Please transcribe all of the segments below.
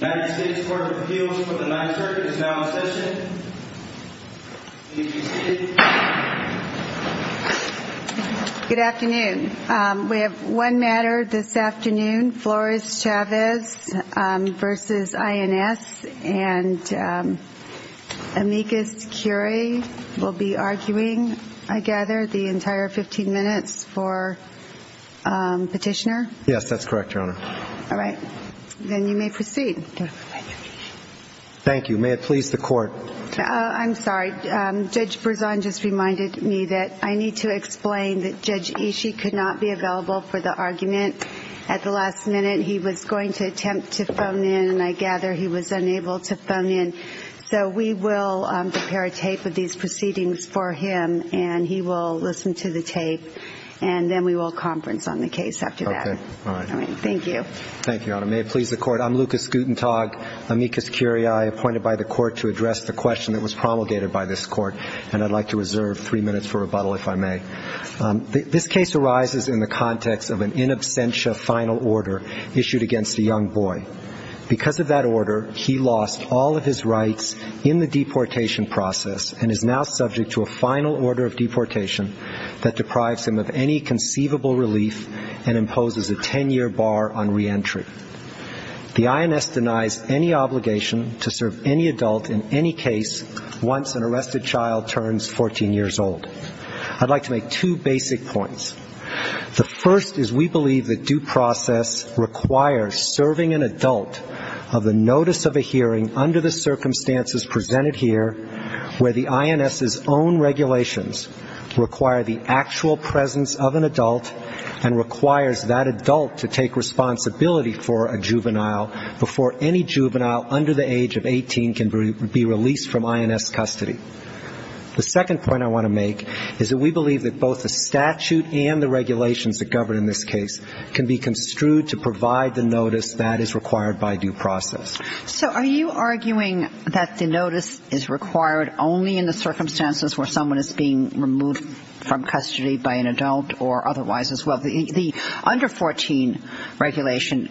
and Amicus Curie will be arguing, I gather, the entire 15 minutes for Petitioner? Yes, that's correct, Your Honor. All right. Then you may proceed. Thank you. May it please the Court? I'm sorry. Judge Berzon just reminded me that I need to explain that Judge Ishii could not be available for the argument at the last minute. He was going to attempt to phone in, and I gather he was unable to phone in. So we will prepare a tape of these proceedings for him, and he will listen to the tape. And then we will conference on the case after that. Okay. All right. All right. Thank you. Thank you, Your Honor. May it please the Court? I'm Lucas Gutentag, Amicus Curie, appointed by the Court to address the question that was promulgated by this Court. And I'd like to reserve three minutes for rebuttal, if I may. This case arises in the context of an in absentia final order issued against a young boy. Because of that order, he lost all of his rights in the deportation process and is now subject to a final order of deportation that deprives him of any conceivable relief and imposes a ten-year bar on reentry. The INS denies any obligation to serve any adult in any case once an arrested child turns 14 years old. I'd like to make two basic points. The first is we believe that due process requires serving an adult of a notice of a hearing under the circumstances presented here where the INS's own regulations require the actual presence of an adult and requires that adult to take responsibility for a juvenile before any juvenile under the age of 18 can be released from INS custody. The second point I want to make is that we believe that both the statute and the regulations that govern in this case can be construed to provide the notice that is required by due process. So are you arguing that the notice is required only in the circumstances where someone is being removed from custody by an adult or otherwise as well? The under-14 regulation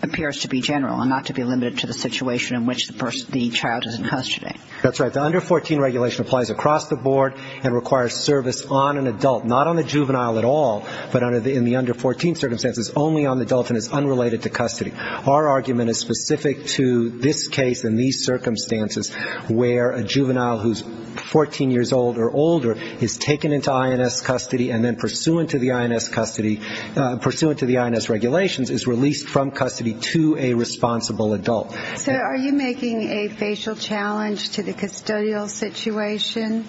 appears to be general and not to be limited to the situation in which the child is in custody. That's right. The under-14 regulation applies across the board and requires service on an adult, not on the juvenile at all, but in the under-14 circumstances only on the adult and is unrelated to custody. Our argument is specific to this case and these circumstances where a juvenile who is 14 years old or older is taken into INS custody and then pursuant to the INS regulations is released from custody to a responsible adult. So are you making a facial challenge to the custodial situation?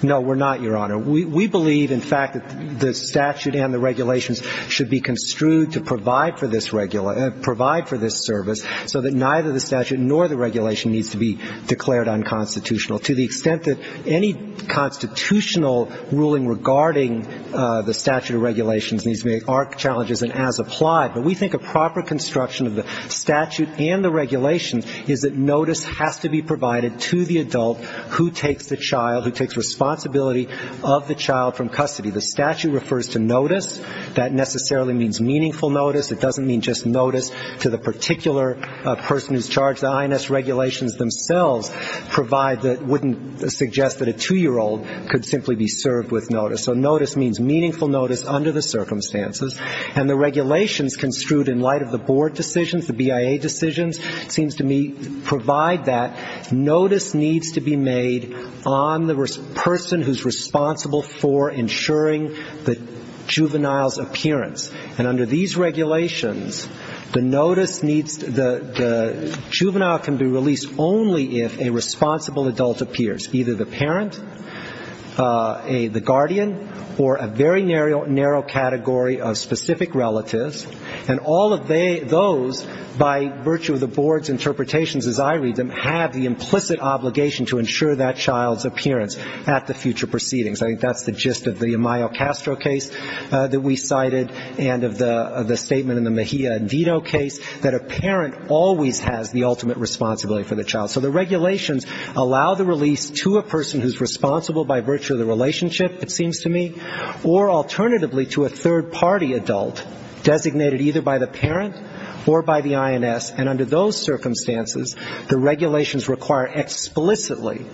No, we're not, Your Honor. We believe, in fact, that the statute and the regulations should be construed to provide for this service so that neither the statute nor the regulation needs to be declared unconstitutional to the extent that any constitutional ruling regarding the statute of regulations needs to meet our challenges and as applied. But we think a proper construction of the statute and the regulations is that notice has to be provided to the adult who takes the child, who takes responsibility of the child from custody. The statute refers to notice. That necessarily means meaningful notice. It doesn't mean just notice to the particular person who's charged. The INS regulations themselves provide, wouldn't suggest that a 2-year-old could simply be served with notice. So notice means meaningful notice under the circumstances. And the regulations construed in light of the board decisions, the BIA decisions, seems to provide that notice needs to be made on the person who's responsible for ensuring the juvenile's appearance. And under these regulations, the notice needs to be, the juvenile can be released only if a responsible adult appears, either the parent, the guardian, or a very narrow category of specific relatives. And all of those, by virtue of the board's interpretations as I read them, have the implicit obligation to ensure that child's appearance at the future proceedings. I think that's the gist of the Amayo-Castro case that we cited and of the statement in the Mejia-Indito case, that a parent always has the ultimate responsibility for the child. So the regulations allow the release to a person who's responsible by virtue of the relationship, it seems to me, or alternatively to a third-party adult designated either by the parent or by the INS. And under those circumstances, the regulations require explicitly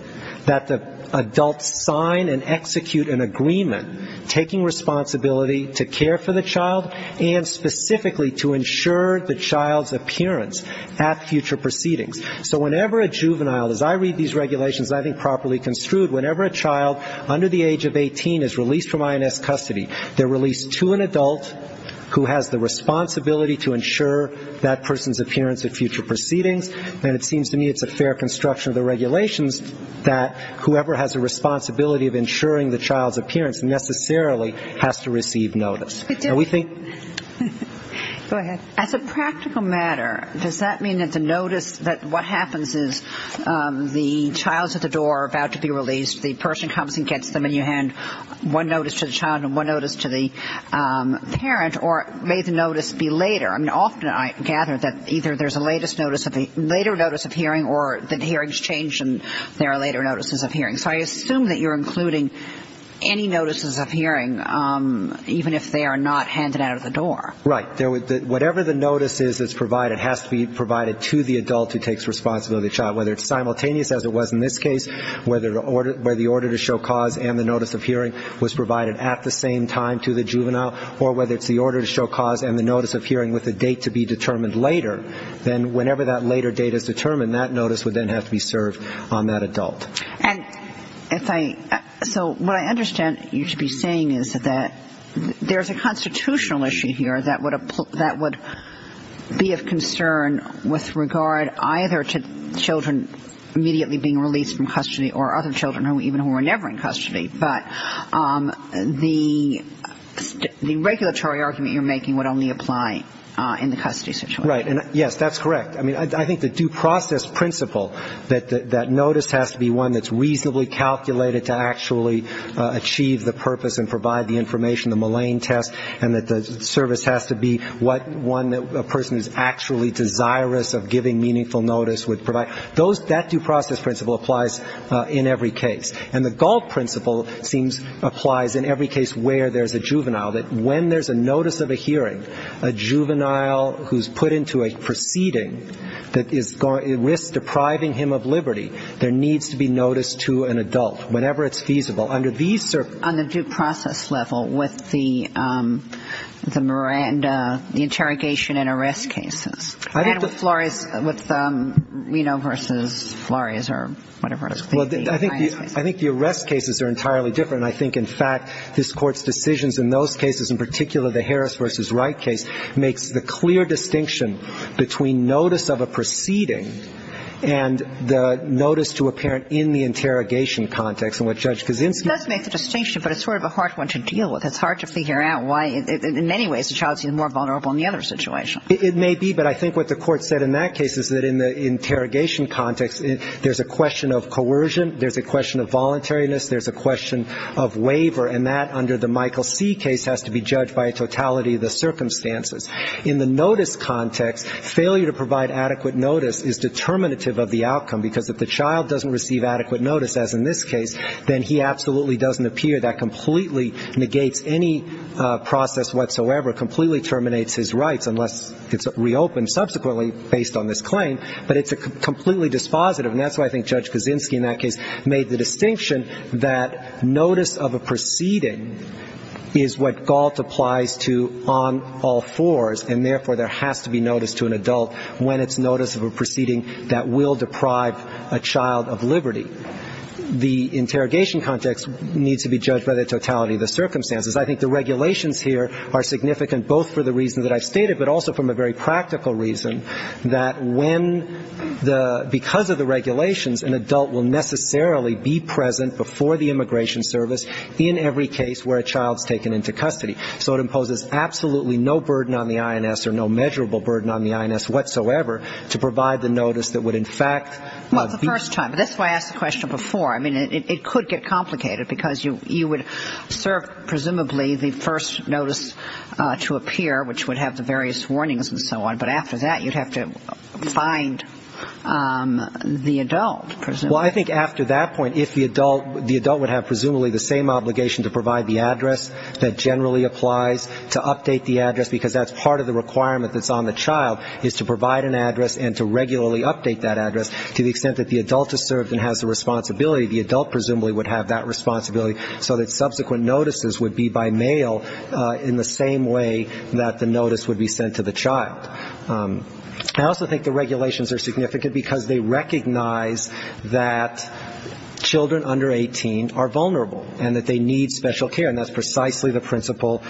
that the adult sign and execute an agreement taking responsibility to care for the child and specifically to ensure the child's appearance at future proceedings. So whenever a juvenile, as I read these regulations, I think properly construed, whenever a child under the age of 18 is released from INS custody, they're released to an adult who has the responsibility to ensure that person's appearance at future proceedings. And it seems to me it's a fair construction of the regulations that whoever has a responsibility of ensuring the child's appearance necessarily has to receive notice. And we think that's a practical matter. Does that mean that the notice that what happens is the child's at the door about to be released, the person comes and gets them, and you hand one notice to the child and one notice to the parent, or may the notice be later? I mean, often I gather that either there's a later notice of hearing or the hearing's changed and there are later notices of hearing. So I assume that you're including any notices of hearing, even if they are not handed out at the door. Right. Whatever the notice is that's provided has to be provided to the adult who takes responsibility of the child, whether it's simultaneous as it was in this case, whether the order to show cause and the notice of hearing was provided at the same time to the juvenile, or whether it's the order to show cause and the notice of hearing with a date to be determined later, then whenever that later date is determined, that notice would then have to be served on that adult. And if I so what I understand you to be saying is that there's a constitutional issue here that would be of concern with regard either to children immediately being released from custody or other children even who are never in custody. But the regulatory argument you're making would only apply in the custody situation. Right. And, yes, that's correct. I mean, I think the due process principle that that notice has to be one that's reasonably calculated to actually achieve the purpose and provide the information, the Moline test, and that the service has to be one that a person is actually desirous of giving meaningful notice would provide, that due process principle applies in every case. And the Gault principle seems applies in every case where there's a juvenile, that when there's a notice of a hearing, a juvenile who's put into a proceeding that is going to risk depriving him of liberty, there needs to be notice to an adult, whenever it's feasible. Under these circumstances. On the due process level with the Miranda, the interrogation and arrest cases. And with Flores, with Reno v. Flores or whatever. I think the arrest cases are entirely different. And I think, in fact, this Court's decisions in those cases, in particular the Harris v. Wright case, makes the clear distinction between notice of a proceeding and the notice to a parent in the interrogation context. And what Judge Kaczynski. It does make the distinction, but it's sort of a hard one to deal with. It's hard to figure out why, in many ways, the child seems more vulnerable in the other situation. It may be. But I think what the Court said in that case is that in the interrogation context, there's a question of coercion, there's a question of voluntariness, there's a question of waiver, and that, under the Michael C. case, has to be judged by a totality of the circumstances. In the notice context, failure to provide adequate notice is determinative of the outcome, because if the child doesn't receive adequate notice, as in this case, then he absolutely doesn't appear. That completely negates any process whatsoever, completely terminates his rights, unless it's reopened subsequently, based on this claim. But it's completely dispositive. And that's why I think Judge Kaczynski, in that case, made the distinction that notice of a proceeding is what Galt applies to on all fours, and, therefore, there has to be notice to an adult when it's notice of a proceeding that will deprive a child of liberty. The interrogation context needs to be judged by the totality of the circumstances. I think the regulations here are significant, both for the reasons that I've stated, but also from a very practical reason, that when the ‑‑ because of the regulations, an adult will necessarily be present before the immigration service in every case where a child is taken into custody. So it imposes absolutely no burden on the INS, or no measurable burden on the INS whatsoever, to provide the notice that would, in fact ‑‑ Well, it's the first time. That's why I asked the question before. I mean, it could get complicated, because you would serve, presumably, the first notice to appear, which would have the various warnings and so on. But after that, you'd have to find the adult, presumably. Well, I think after that point, if the adult would have presumably the same obligation to provide the address that generally applies to update the address, because that's part of the requirement that's on the child, is to provide an address and to regularly update that address. To the extent that the adult is served and has the responsibility, the adult presumably would have that responsibility, so that subsequent notices would be by mail in the same way that the notice would be sent to the child. I also think the regulations are significant because they recognize that children under 18 are vulnerable and that they need special care, and that's precisely the principle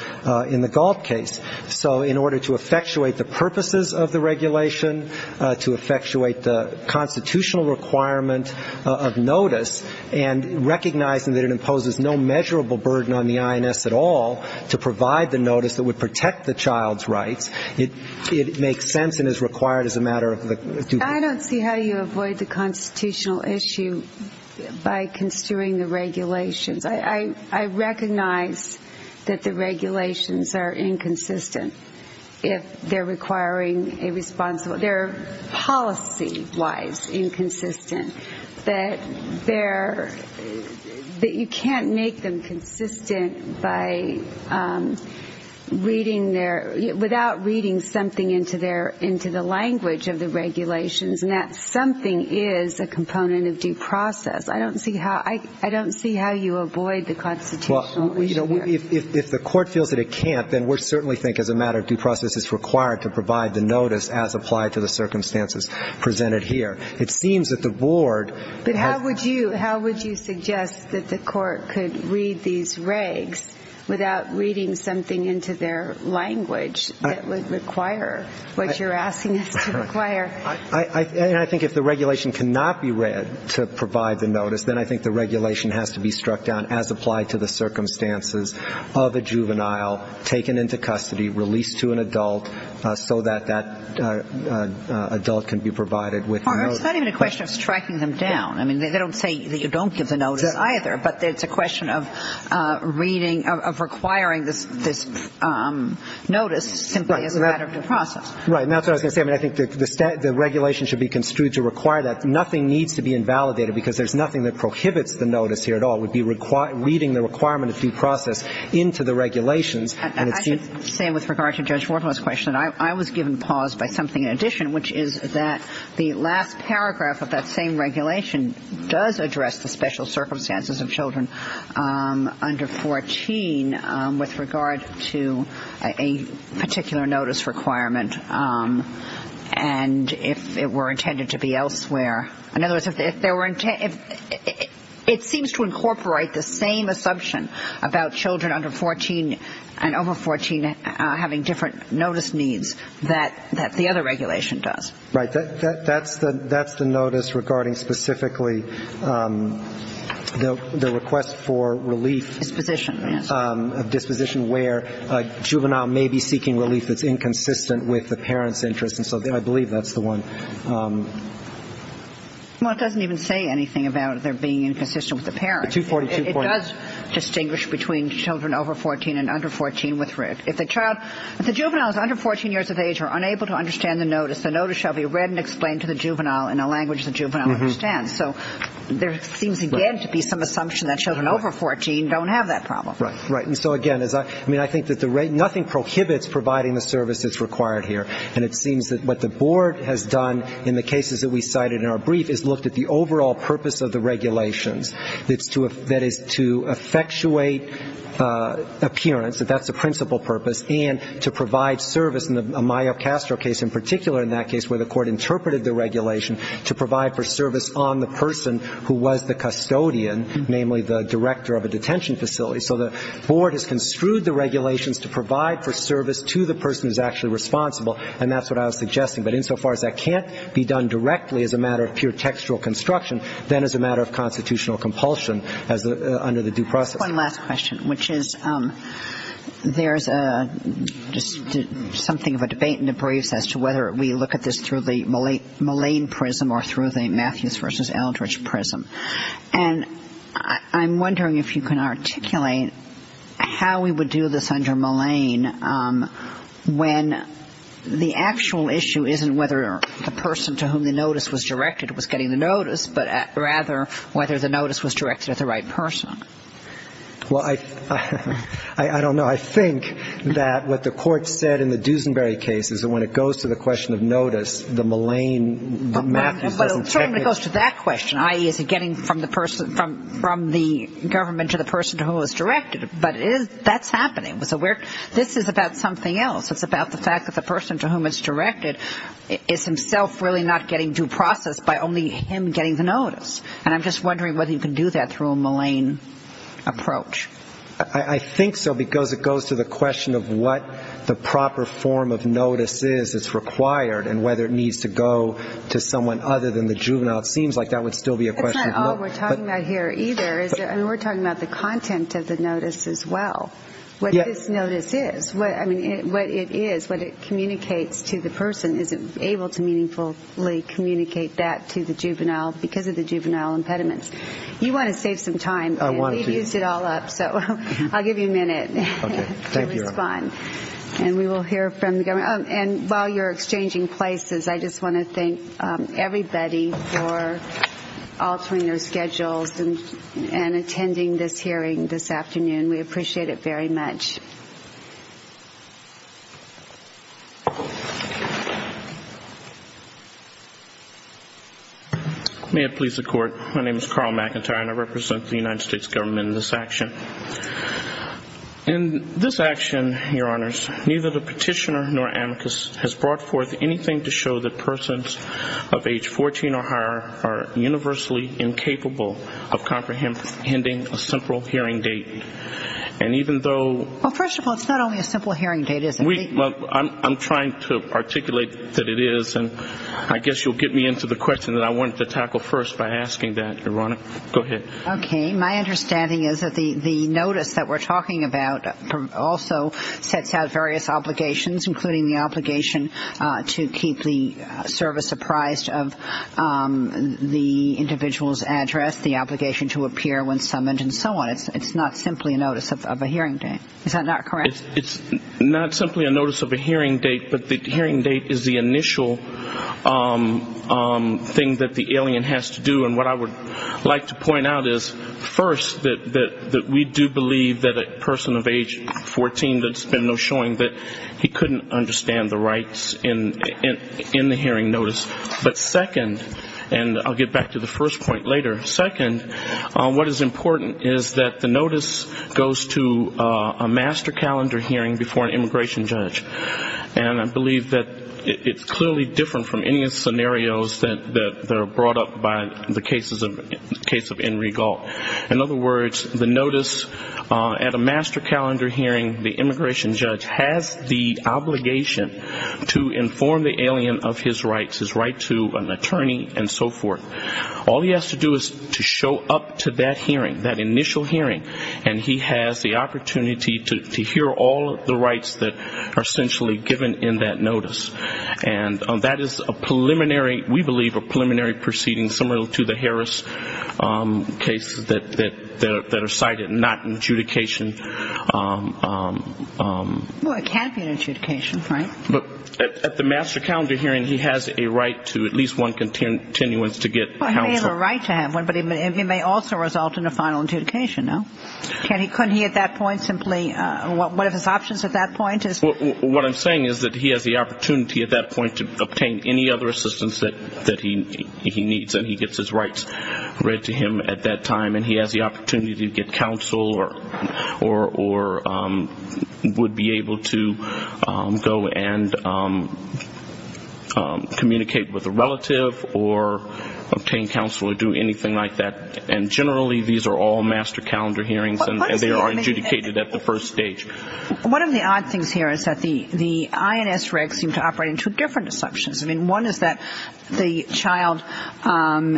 in the Galt case. So in order to effectuate the purposes of the regulation, to effectuate the constitutional requirement of notice, and recognizing that it imposes no measurable burden on the INS at all to provide the notice that would protect the child's rights, it makes sense and is required as a matter of due process. I don't see how you avoid the constitutional issue by construing the regulations. I recognize that the regulations are inconsistent if they're requiring a responsible – if they're policy-wise inconsistent, that they're – that you can't make them consistent by reading their – without reading something into their – into the language of the regulations, and that something is a component of due process. I don't see how – I don't see how you avoid the constitutional issue. Well, you know, if the court feels that it can't, then we certainly think as a matter of due process it's required to provide the notice as applied to the circumstances presented here. It seems that the board has – But how would you – how would you suggest that the court could read these regs without reading something into their language that would require what you're asking us to require? And I think if the regulation cannot be read to provide the notice, then I think the regulation has to be struck down as applied to the circumstances of a juvenile taken into custody, released to an adult so that that adult can be provided with the notice. It's not even a question of striking them down. I mean, they don't say that you don't give the notice either, but it's a question of reading – of requiring this notice simply as a matter of due process. Right. And that's what I was going to say. I mean, I think the regulation should be construed to require that. Nothing needs to be invalidated because there's nothing that prohibits the notice here at all. It would be reading the requirement of due process into the regulations. I should say with regard to Judge Warden's question, I was given pause by something in addition, which is that the last paragraph of that same regulation does address the special circumstances of children under 14 with regard to a particular notice requirement, and if it were intended to be elsewhere. In other words, if there were – it seems to incorporate the same assumption about children under 14 and over 14 having different notice needs that the other regulation does. Right. That's the notice regarding specifically the request for relief. Disposition, yes. A disposition where a juvenile may be seeking relief that's inconsistent with the parent's interest. And so I believe that's the one. Well, it doesn't even say anything about it being inconsistent with the parent. It does distinguish between children over 14 and under 14. If the juvenile is under 14 years of age or unable to understand the notice, the notice shall be read and explained to the juvenile in a language the juvenile understands. So there seems again to be some assumption that children over 14 don't have that problem. Right. And so, again, I think that nothing prohibits providing the service that's required here, and it seems that what the board has done in the cases that we cited in our brief is looked at the overall purpose of the regulations. That is, to effectuate appearance, that that's the principal purpose, and to provide service in the Mayo-Castro case in particular in that case where the court interpreted the regulation to provide for service on the person who was the custodian, namely the director of a detention facility. So the board has construed the regulations to provide for service to the person who's actually responsible, and that's what I was suggesting. But insofar as that can't be done directly as a matter of pure textual construction, then it's a matter of constitutional compulsion under the due process. One last question, which is there's just something of a debate in the briefs as to whether we look at this through the Malayne prism or through the Matthews v. Eldridge prism. And I'm wondering if you can articulate how we would do this under Malayne when the actual issue isn't whether the person to whom the notice was directed was getting the notice, but rather whether the notice was directed at the right person. Well, I don't know. I think that what the court said in the Dusenberry case is that when it goes to the question of notice, the Malayne, the Matthews doesn't check it. That's when it goes to that question, i.e., is it getting from the person, from the government to the person to whom it was directed. But that's happening. This is about something else. It's about the fact that the person to whom it's directed is himself really not getting due process by only him getting the notice. And I'm just wondering whether you can do that through a Malayne approach. I think so because it goes to the question of what the proper form of notice is that's required and whether it needs to go to someone other than the juvenile. It seems like that would still be a question. That's not all we're talking about here either. We're talking about the content of the notice as well, what this notice is, what it is, what it communicates to the person. Is it able to meaningfully communicate that to the juvenile because of the juvenile impediments? You want to save some time. We've used it all up, so I'll give you a minute to respond. And we will hear from the government. And while you're exchanging places, I just want to thank everybody for altering their schedules and attending this hearing this afternoon. We appreciate it very much. May it please the Court, my name is Carl McIntyre, and I represent the United States government in this action. In this action, Your Honors, neither the petitioner nor amicus has brought forth anything to show that persons of age 14 or higher are universally incapable of comprehending a simple hearing date. And even though ‑‑ Well, first of all, it's not only a simple hearing date, is it? Well, I'm trying to articulate that it is, and I guess you'll get me into the question that I wanted to tackle first by asking that, Your Honor. Go ahead. Okay. My understanding is that the notice that we're talking about also sets out various obligations, including the obligation to keep the service apprised of the individual's address, the obligation to appear when summoned, and so on. It's not simply a notice of a hearing date. Is that not correct? It's not simply a notice of a hearing date, but the hearing date is the initial thing that the alien has to do. And what I would like to point out is, first, that we do believe that a person of age 14 that's been no showing that he couldn't understand the rights in the hearing notice. But second, and I'll get back to the first point later, second, what is important is that the notice goes to a master calendar hearing before an immigration judge. And I believe that it's clearly different from any scenarios that are brought up by the case of Enrique Gall. In other words, the notice at a master calendar hearing, the immigration judge has the obligation to inform the alien of his rights, his right to an attorney, and so forth. All he has to do is to show up to that hearing, that initial hearing, and he has the opportunity to hear all of the rights that are essentially given in that notice. And that is a preliminary, we believe, a preliminary proceeding, similar to the Harris cases that are cited, not an adjudication. Well, it can be an adjudication, Frank. But at the master calendar hearing, he has a right to at least one continuance to get counsel. But he may also result in a final adjudication, no? Couldn't he at that point simply, what are his options at that point? What I'm saying is that he has the opportunity at that point to obtain any other assistance that he needs, and he gets his rights read to him at that time, and he has the opportunity to get counsel or would be able to go and communicate with a relative or obtain counsel or do anything like that. And generally, these are all master calendar hearings, and they are adjudicated at the first stage. One of the odd things here is that the INS regs seem to operate in two different assumptions. I mean, one is that the child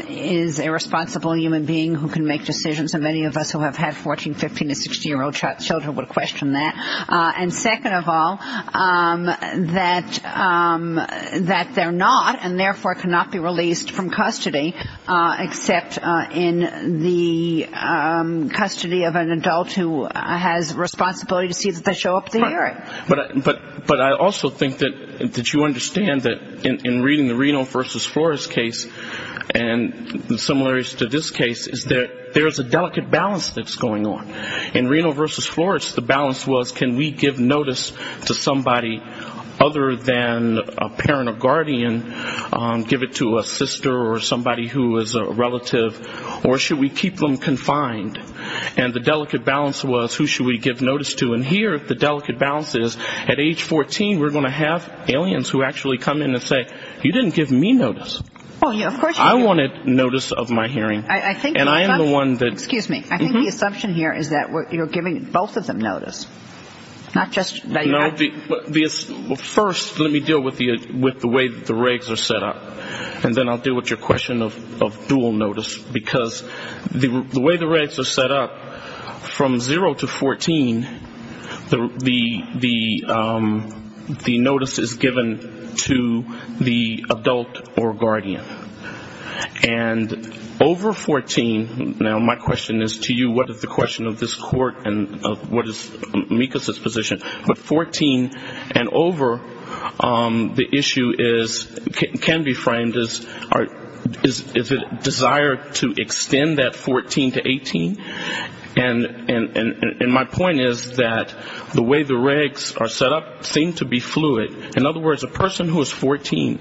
is a responsible human being who can make decisions, and many of us who have had 14-, 15-, or 16-year-old children would question that. And second of all, that they're not, and therefore cannot be released from custody, except in the custody of an adult who has responsibility to see that they show up at the hearing. But I also think that you understand that in reading the Reno v. Flores case and the similarities to this case, is that there's a delicate balance that's going on. In Reno v. Flores, the balance was can we give notice to somebody other than a parent or guardian, give it to a sister or somebody who is a relative, or should we keep them confined? And the delicate balance was who should we give notice to, and here the delicate balance is at age 14, we're going to have aliens who actually come in and say, you didn't give me notice. I wanted notice of my hearing. And I am the one that ‑‑ Excuse me. I think the assumption here is that you're giving both of them notice. Not just ‑‑ First, let me deal with the way the regs are set up. And then I'll deal with your question of dual notice, because the way the regs are set up, from zero to 14, the notice is given to the adult or guardian. And over 14, now my question is to you, what is the question of this court and what is Mika's position, but 14 and over, the issue is ‑‑ can be framed as is it a desire to extend that 14 to 18? And my point is that the way the regs are set up seem to be fluid. In other words, a person who is 14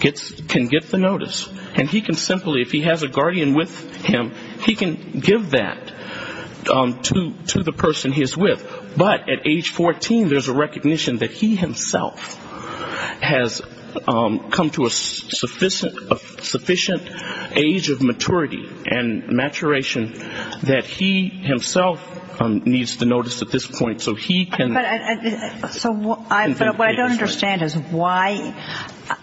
can get the notice, and he can simply, if he has a guardian with him, he can give that to the person he's with. But at age 14, there's a recognition that he himself has come to a sufficient age of maturity and maturation that he himself needs the notice at this point, so he can ‑‑ But what I don't understand is why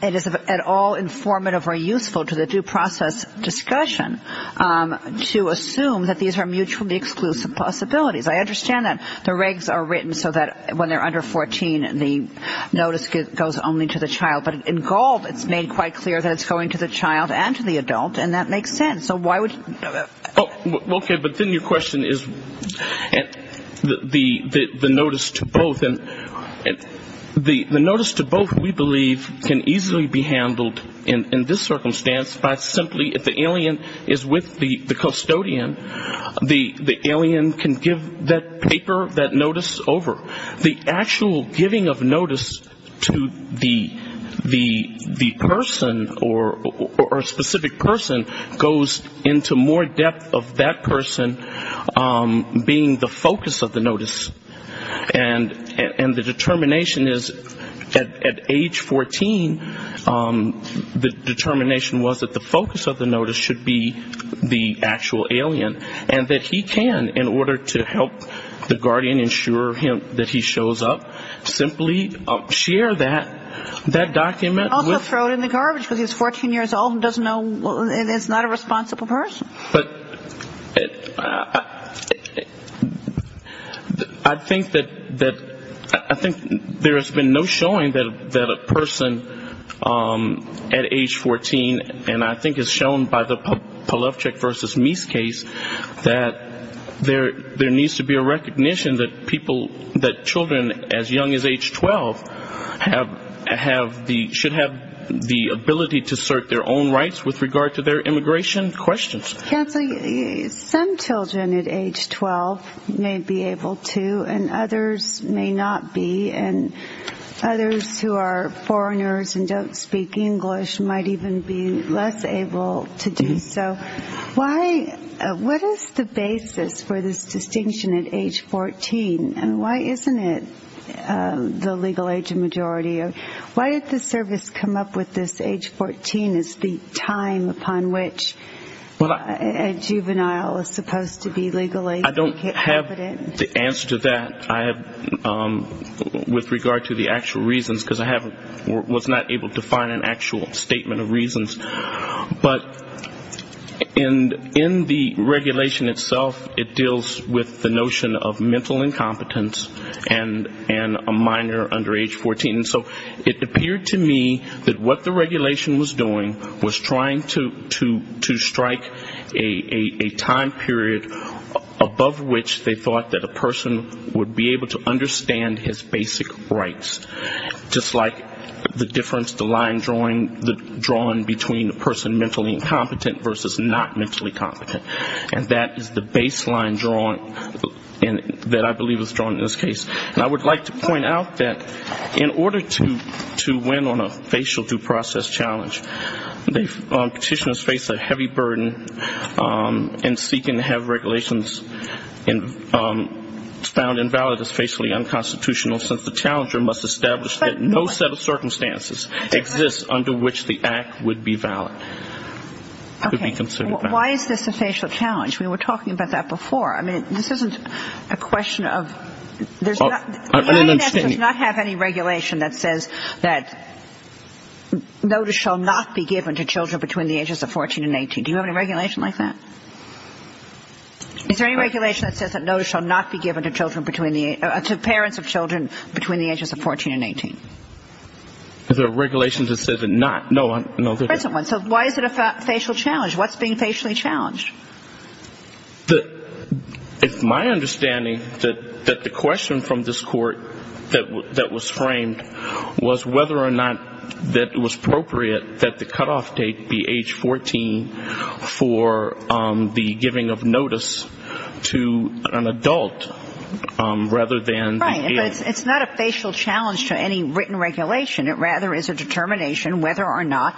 it is at all informative or useful to the due process discussion to assume that these are mutually exclusive possibilities. I understand that the regs are written so that when they're under 14, the notice goes only to the child, but in gold it's made quite clear that it's going to the child and to the adult, and that makes sense. So why would ‑‑ Okay, but then your question is the notice to both. And the notice to both, we believe, can easily be handled in this circumstance by simply, if the alien is with the custodian, the alien can give that paper, that notice over. The actual giving of notice to the person or a specific person goes to the guardian. And that goes into more depth of that person being the focus of the notice. And the determination is at age 14, the determination was that the focus of the notice should be the actual alien, and that he can, in order to help the guardian ensure that he shows up, simply share that, that document. And also throw it in the garbage, because he's 14 years old and doesn't know, and is not a responsible person. But I think that there has been no showing that a person at age 14, and I think it's shown by the Polevchik v. Mies case, that there needs to be a recognition that people, that children as young as age 12 have the, should have the ability to assert their own rights with regard to their immigration questions. Some children at age 12 may be able to, and others may not be. And others who are foreigners and don't speak English might even be less able to do so. Why, what is the basis for this distinction at age 14? And why isn't it the legal age majority? Why did the service come up with this age 14 as the time upon which a juvenile is supposed to be legally competent? I don't have the answer to that. I have, with regard to the actual reasons, because I haven't, was not able to find an actual statement of reasons. But in the regulation itself, it deals with the notion of mental incompetence. And a minor under age 14. So it appeared to me that what the regulation was doing was trying to strike a time period above which they thought that a person would be able to understand his basic rights. Just like the difference, the line drawing, the drawing between a person mentally incompetent versus not mentally incompetent, the line drawing that I believe was drawn in this case. And I would like to point out that in order to win on a facial due process challenge, petitioners face a heavy burden in seeking to have regulations found invalid as facially unconstitutional, since the challenger must establish that no set of circumstances exists under which the act would be valid. Okay. Why is this a facial challenge? We were talking about that before. I mean, this isn't a question of there's not any regulation that says that notice shall not be given to children between the ages of 14 and 18. Do you have any regulation like that? Is there any regulation that says that notice shall not be given to parents of children between the ages of 14 and 18? Is there a regulation that says it not? No. So why is it a facial challenge? What's being facially challenged? It's my understanding that the question from this Court that was framed was whether or not that it was appropriate that the cutoff date be age 14 for the giving of notice to an adult rather than the adult. It's not a facial challenge to any written regulation. It rather is a determination whether or not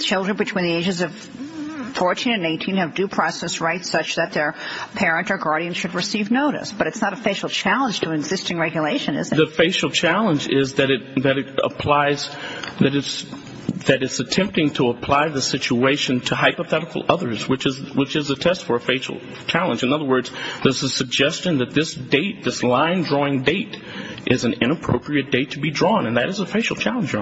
children between the ages of 14 and 18 have due process rights such that their parent or guardian should receive notice. But it's not a facial challenge to existing regulation, is it? The facial challenge is that it applies, that it's attempting to apply the situation to hypothetical others, which is a test for a facial challenge. In other words, there's a suggestion that this date, this line-drawing date is an inappropriate date to be drawn, and that is a facial challenge.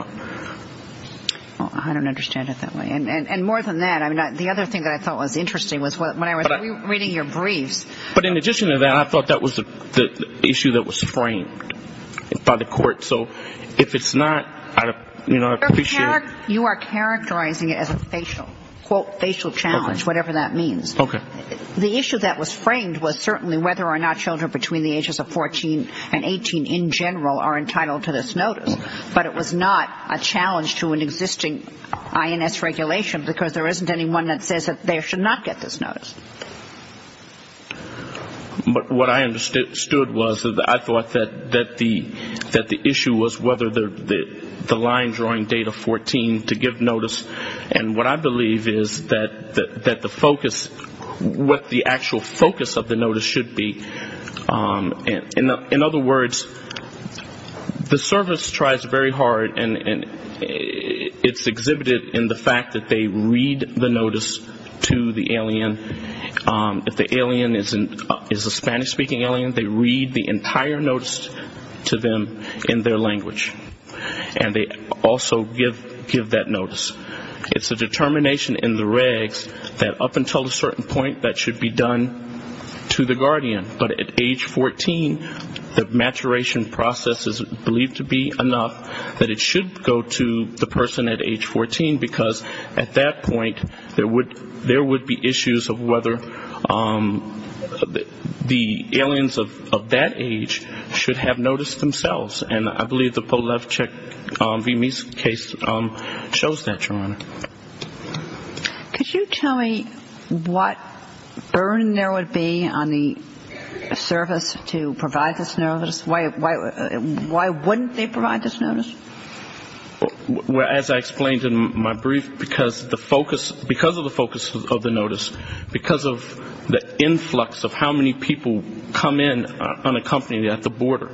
I don't understand it that way. And more than that, the other thing that I thought was interesting was when I was reading your briefs. But in addition to that, I thought that was the issue that was framed by the Court. So if it's not, you know, I appreciate it. You are characterizing it as a facial, quote, facial challenge, whatever that means. Okay. The issue that was framed was certainly whether or not children between the ages of 14 and 18 in general are entitled to this notice. But it was not a challenge to an existing INS regulation, because there isn't anyone that says that they should not get this notice. But what I understood was that I thought that the issue was whether the line-drawing date of 14 to give notice. And what I believe is that the focus, what the actual focus of the notice should be. In other words, the service tries very hard, and it's exhibited in the fact that they read the notice to the alien. If the alien is a Spanish-speaking alien, they read the entire notice to them in their language. And they also give that notice. It's a determination in the regs that up until a certain point that should be done to the guardian. But at age 14, the maturation process is believed to be enough that it should go to the person at age 14, because at that point there would be issues of whether the aliens of that age should have noticed themselves. And I believe the Polevchik v. Meese case shows that, Your Honor. Could you tell me what burden there would be on the service to provide this notice? Why wouldn't they provide this notice? As I explained in my brief, because of the focus of the notice, because of the influx of how many people come in unaccompanied at the border,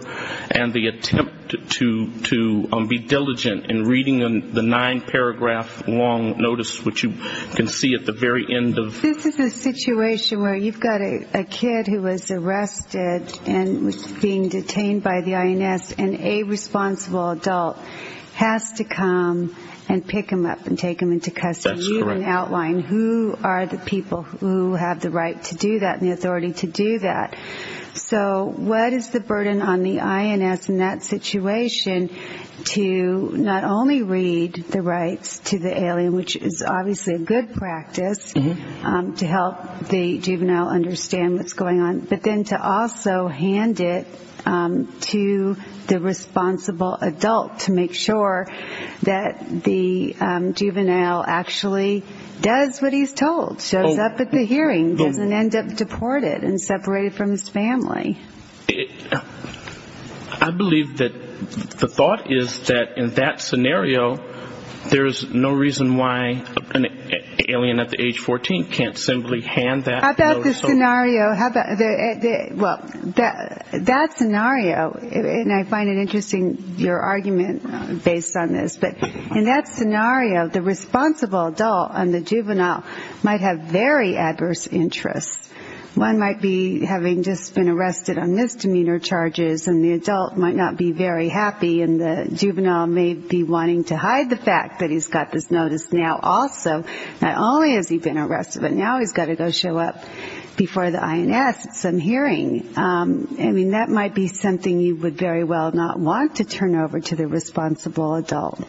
and the attempt to be diligent in reading the nine-paragraph long notice, which you can see at the very end. This is a situation where you've got a kid who was arrested and was being detained by the INS, and a responsible adult has to come and pick him up and take him into custody. You can outline who are the people who have the right to do that and the authority to do that. So what is the burden on the INS in that situation to not only read the rights to the alien, which is obviously a good practice to help the juvenile understand what's going on, but then to also hand it to the responsible adult to make sure that the juvenile actually does what he's told, shows up at the hearing, doesn't end up deported and separated from his family. I believe that the thought is that in that scenario, there's no reason why an alien at the age of 14 can't simply hand that notice over. How about the scenario, well, that scenario, and I find it interesting your argument based on this, but in that scenario, the responsible adult and the juvenile might have very adverse interests. One might be having just been arrested on misdemeanor charges, and the adult might not be very happy, and the juvenile may be wanting to hide the fact that he's got this notice now also. Not only has he been arrested, but now he's got to go show up before the INS at some hearing. I mean, that might be something you would very well not want to turn over to the responsible adult.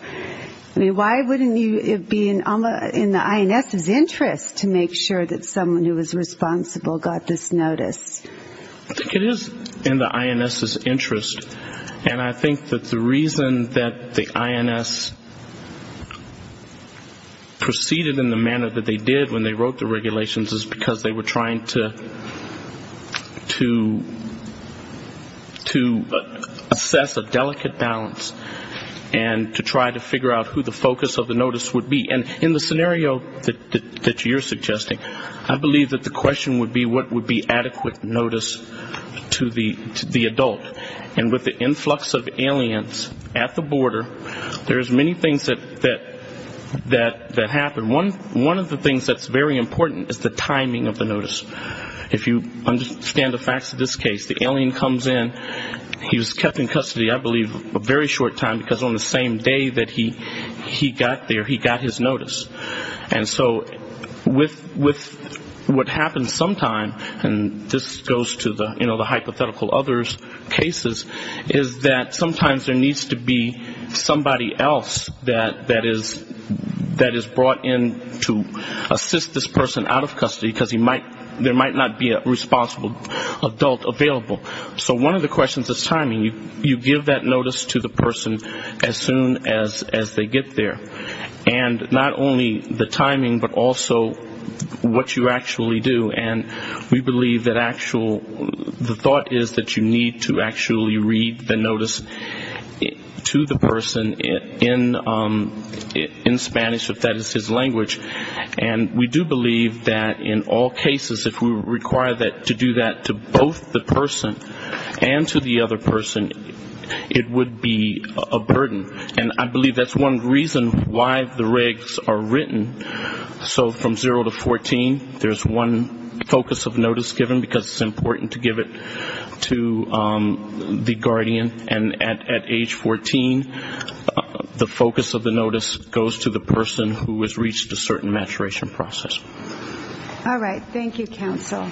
I mean, why wouldn't it be in the INS's interest to make sure that someone who was responsible got this notice? I think it is in the INS's interest, and I think that the reason that the INS proceeded in the manner that they did when they wrote the regulations is because they were trying to assess a delicate balance, and to try to figure out who the focus of the notice would be. And in the scenario that you're suggesting, I believe that the question would be what would be adequate notice to the adult. And with the influx of aliens at the border, there's many things that happen. One of the things that's very important is the timing of the notice. If you understand the facts of this case, the alien comes in, he was kept in custody I believe a very short time, because on the same day that he got there, he got his notice. And so with what happens sometimes, and this goes to the hypothetical others cases, is that sometimes there needs to be somebody else that is brought in to assist this person out of custody, because there might not be a responsible adult available. So one of the questions is timing. You give that notice to the person as soon as they get there, and not only the timing, but also what you actually do. And we believe that the thought is that you need to actually read the notice to the person in Spanish, if that is his language. And we do believe that in all cases, if we require to do that to both the person and to the other person, it would be a burden. And I believe that's one reason why the regs are written. So from zero to 14, there's one focus of notice given, because it's important to give it to the guardian. And at age 14, the focus of the notice goes to the person who has reached a certain maturation process. All right. Thank you, counsel.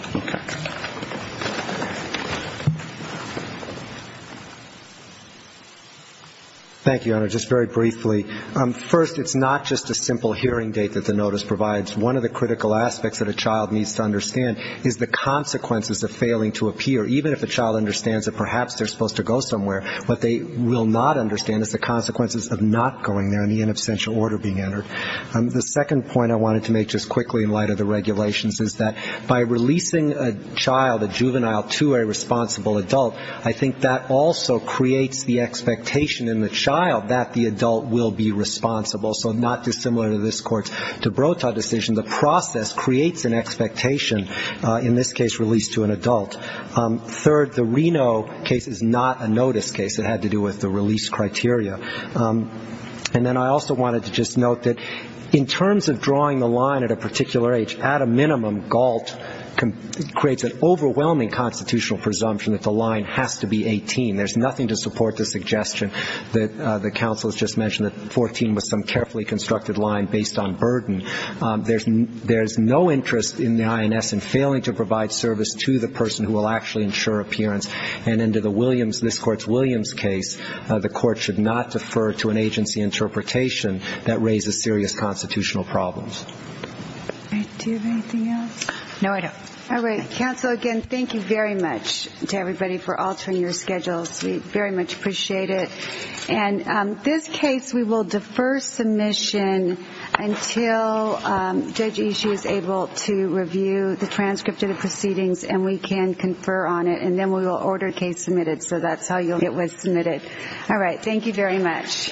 Thank you, Honor. Just very briefly, first, it's not just a simple hearing date that the notice provides. One of the critical aspects that a child needs to understand is the consequences of failing to appear, even if a child understands that perhaps they're supposed to go somewhere. What they will not understand is the consequences of not going there and the inabsential order being entered. The second point I wanted to make just quickly in light of the regulations is that by releasing a child, a juvenile, to a responsible adult, I think that also creates the expectation in the child that the adult will be responsible. So not dissimilar to this Court's de Brota decision, the process creates an expectation, in this case, released to an adult. Third, the Reno case is not a notice case. It had to do with the release criteria. And then I also wanted to just note that in terms of drawing the line at a particular age, at a minimum GALT creates an overwhelming constitutional presumption that the line has to be 18. There's nothing to support the suggestion that the counsel has just mentioned, that 14 was some carefully constructed line based on burden. There's no interest in the INS in failing to provide service to the person who will actually ensure appearance. And into the Williams, this Court's Williams case, the Court should not defer to an agency interpretation that raises serious constitutional problems. Do you have anything else? No, I don't. All right. Counsel, again, thank you very much to everybody for altering your schedules. We very much appreciate it. And this case, we will defer submission until Judge Ishii is able to review the transcript of the proceedings and we can confer on it, and then we will order a case submitted. So that's how it was submitted. All right. Thank you very much. Thank you.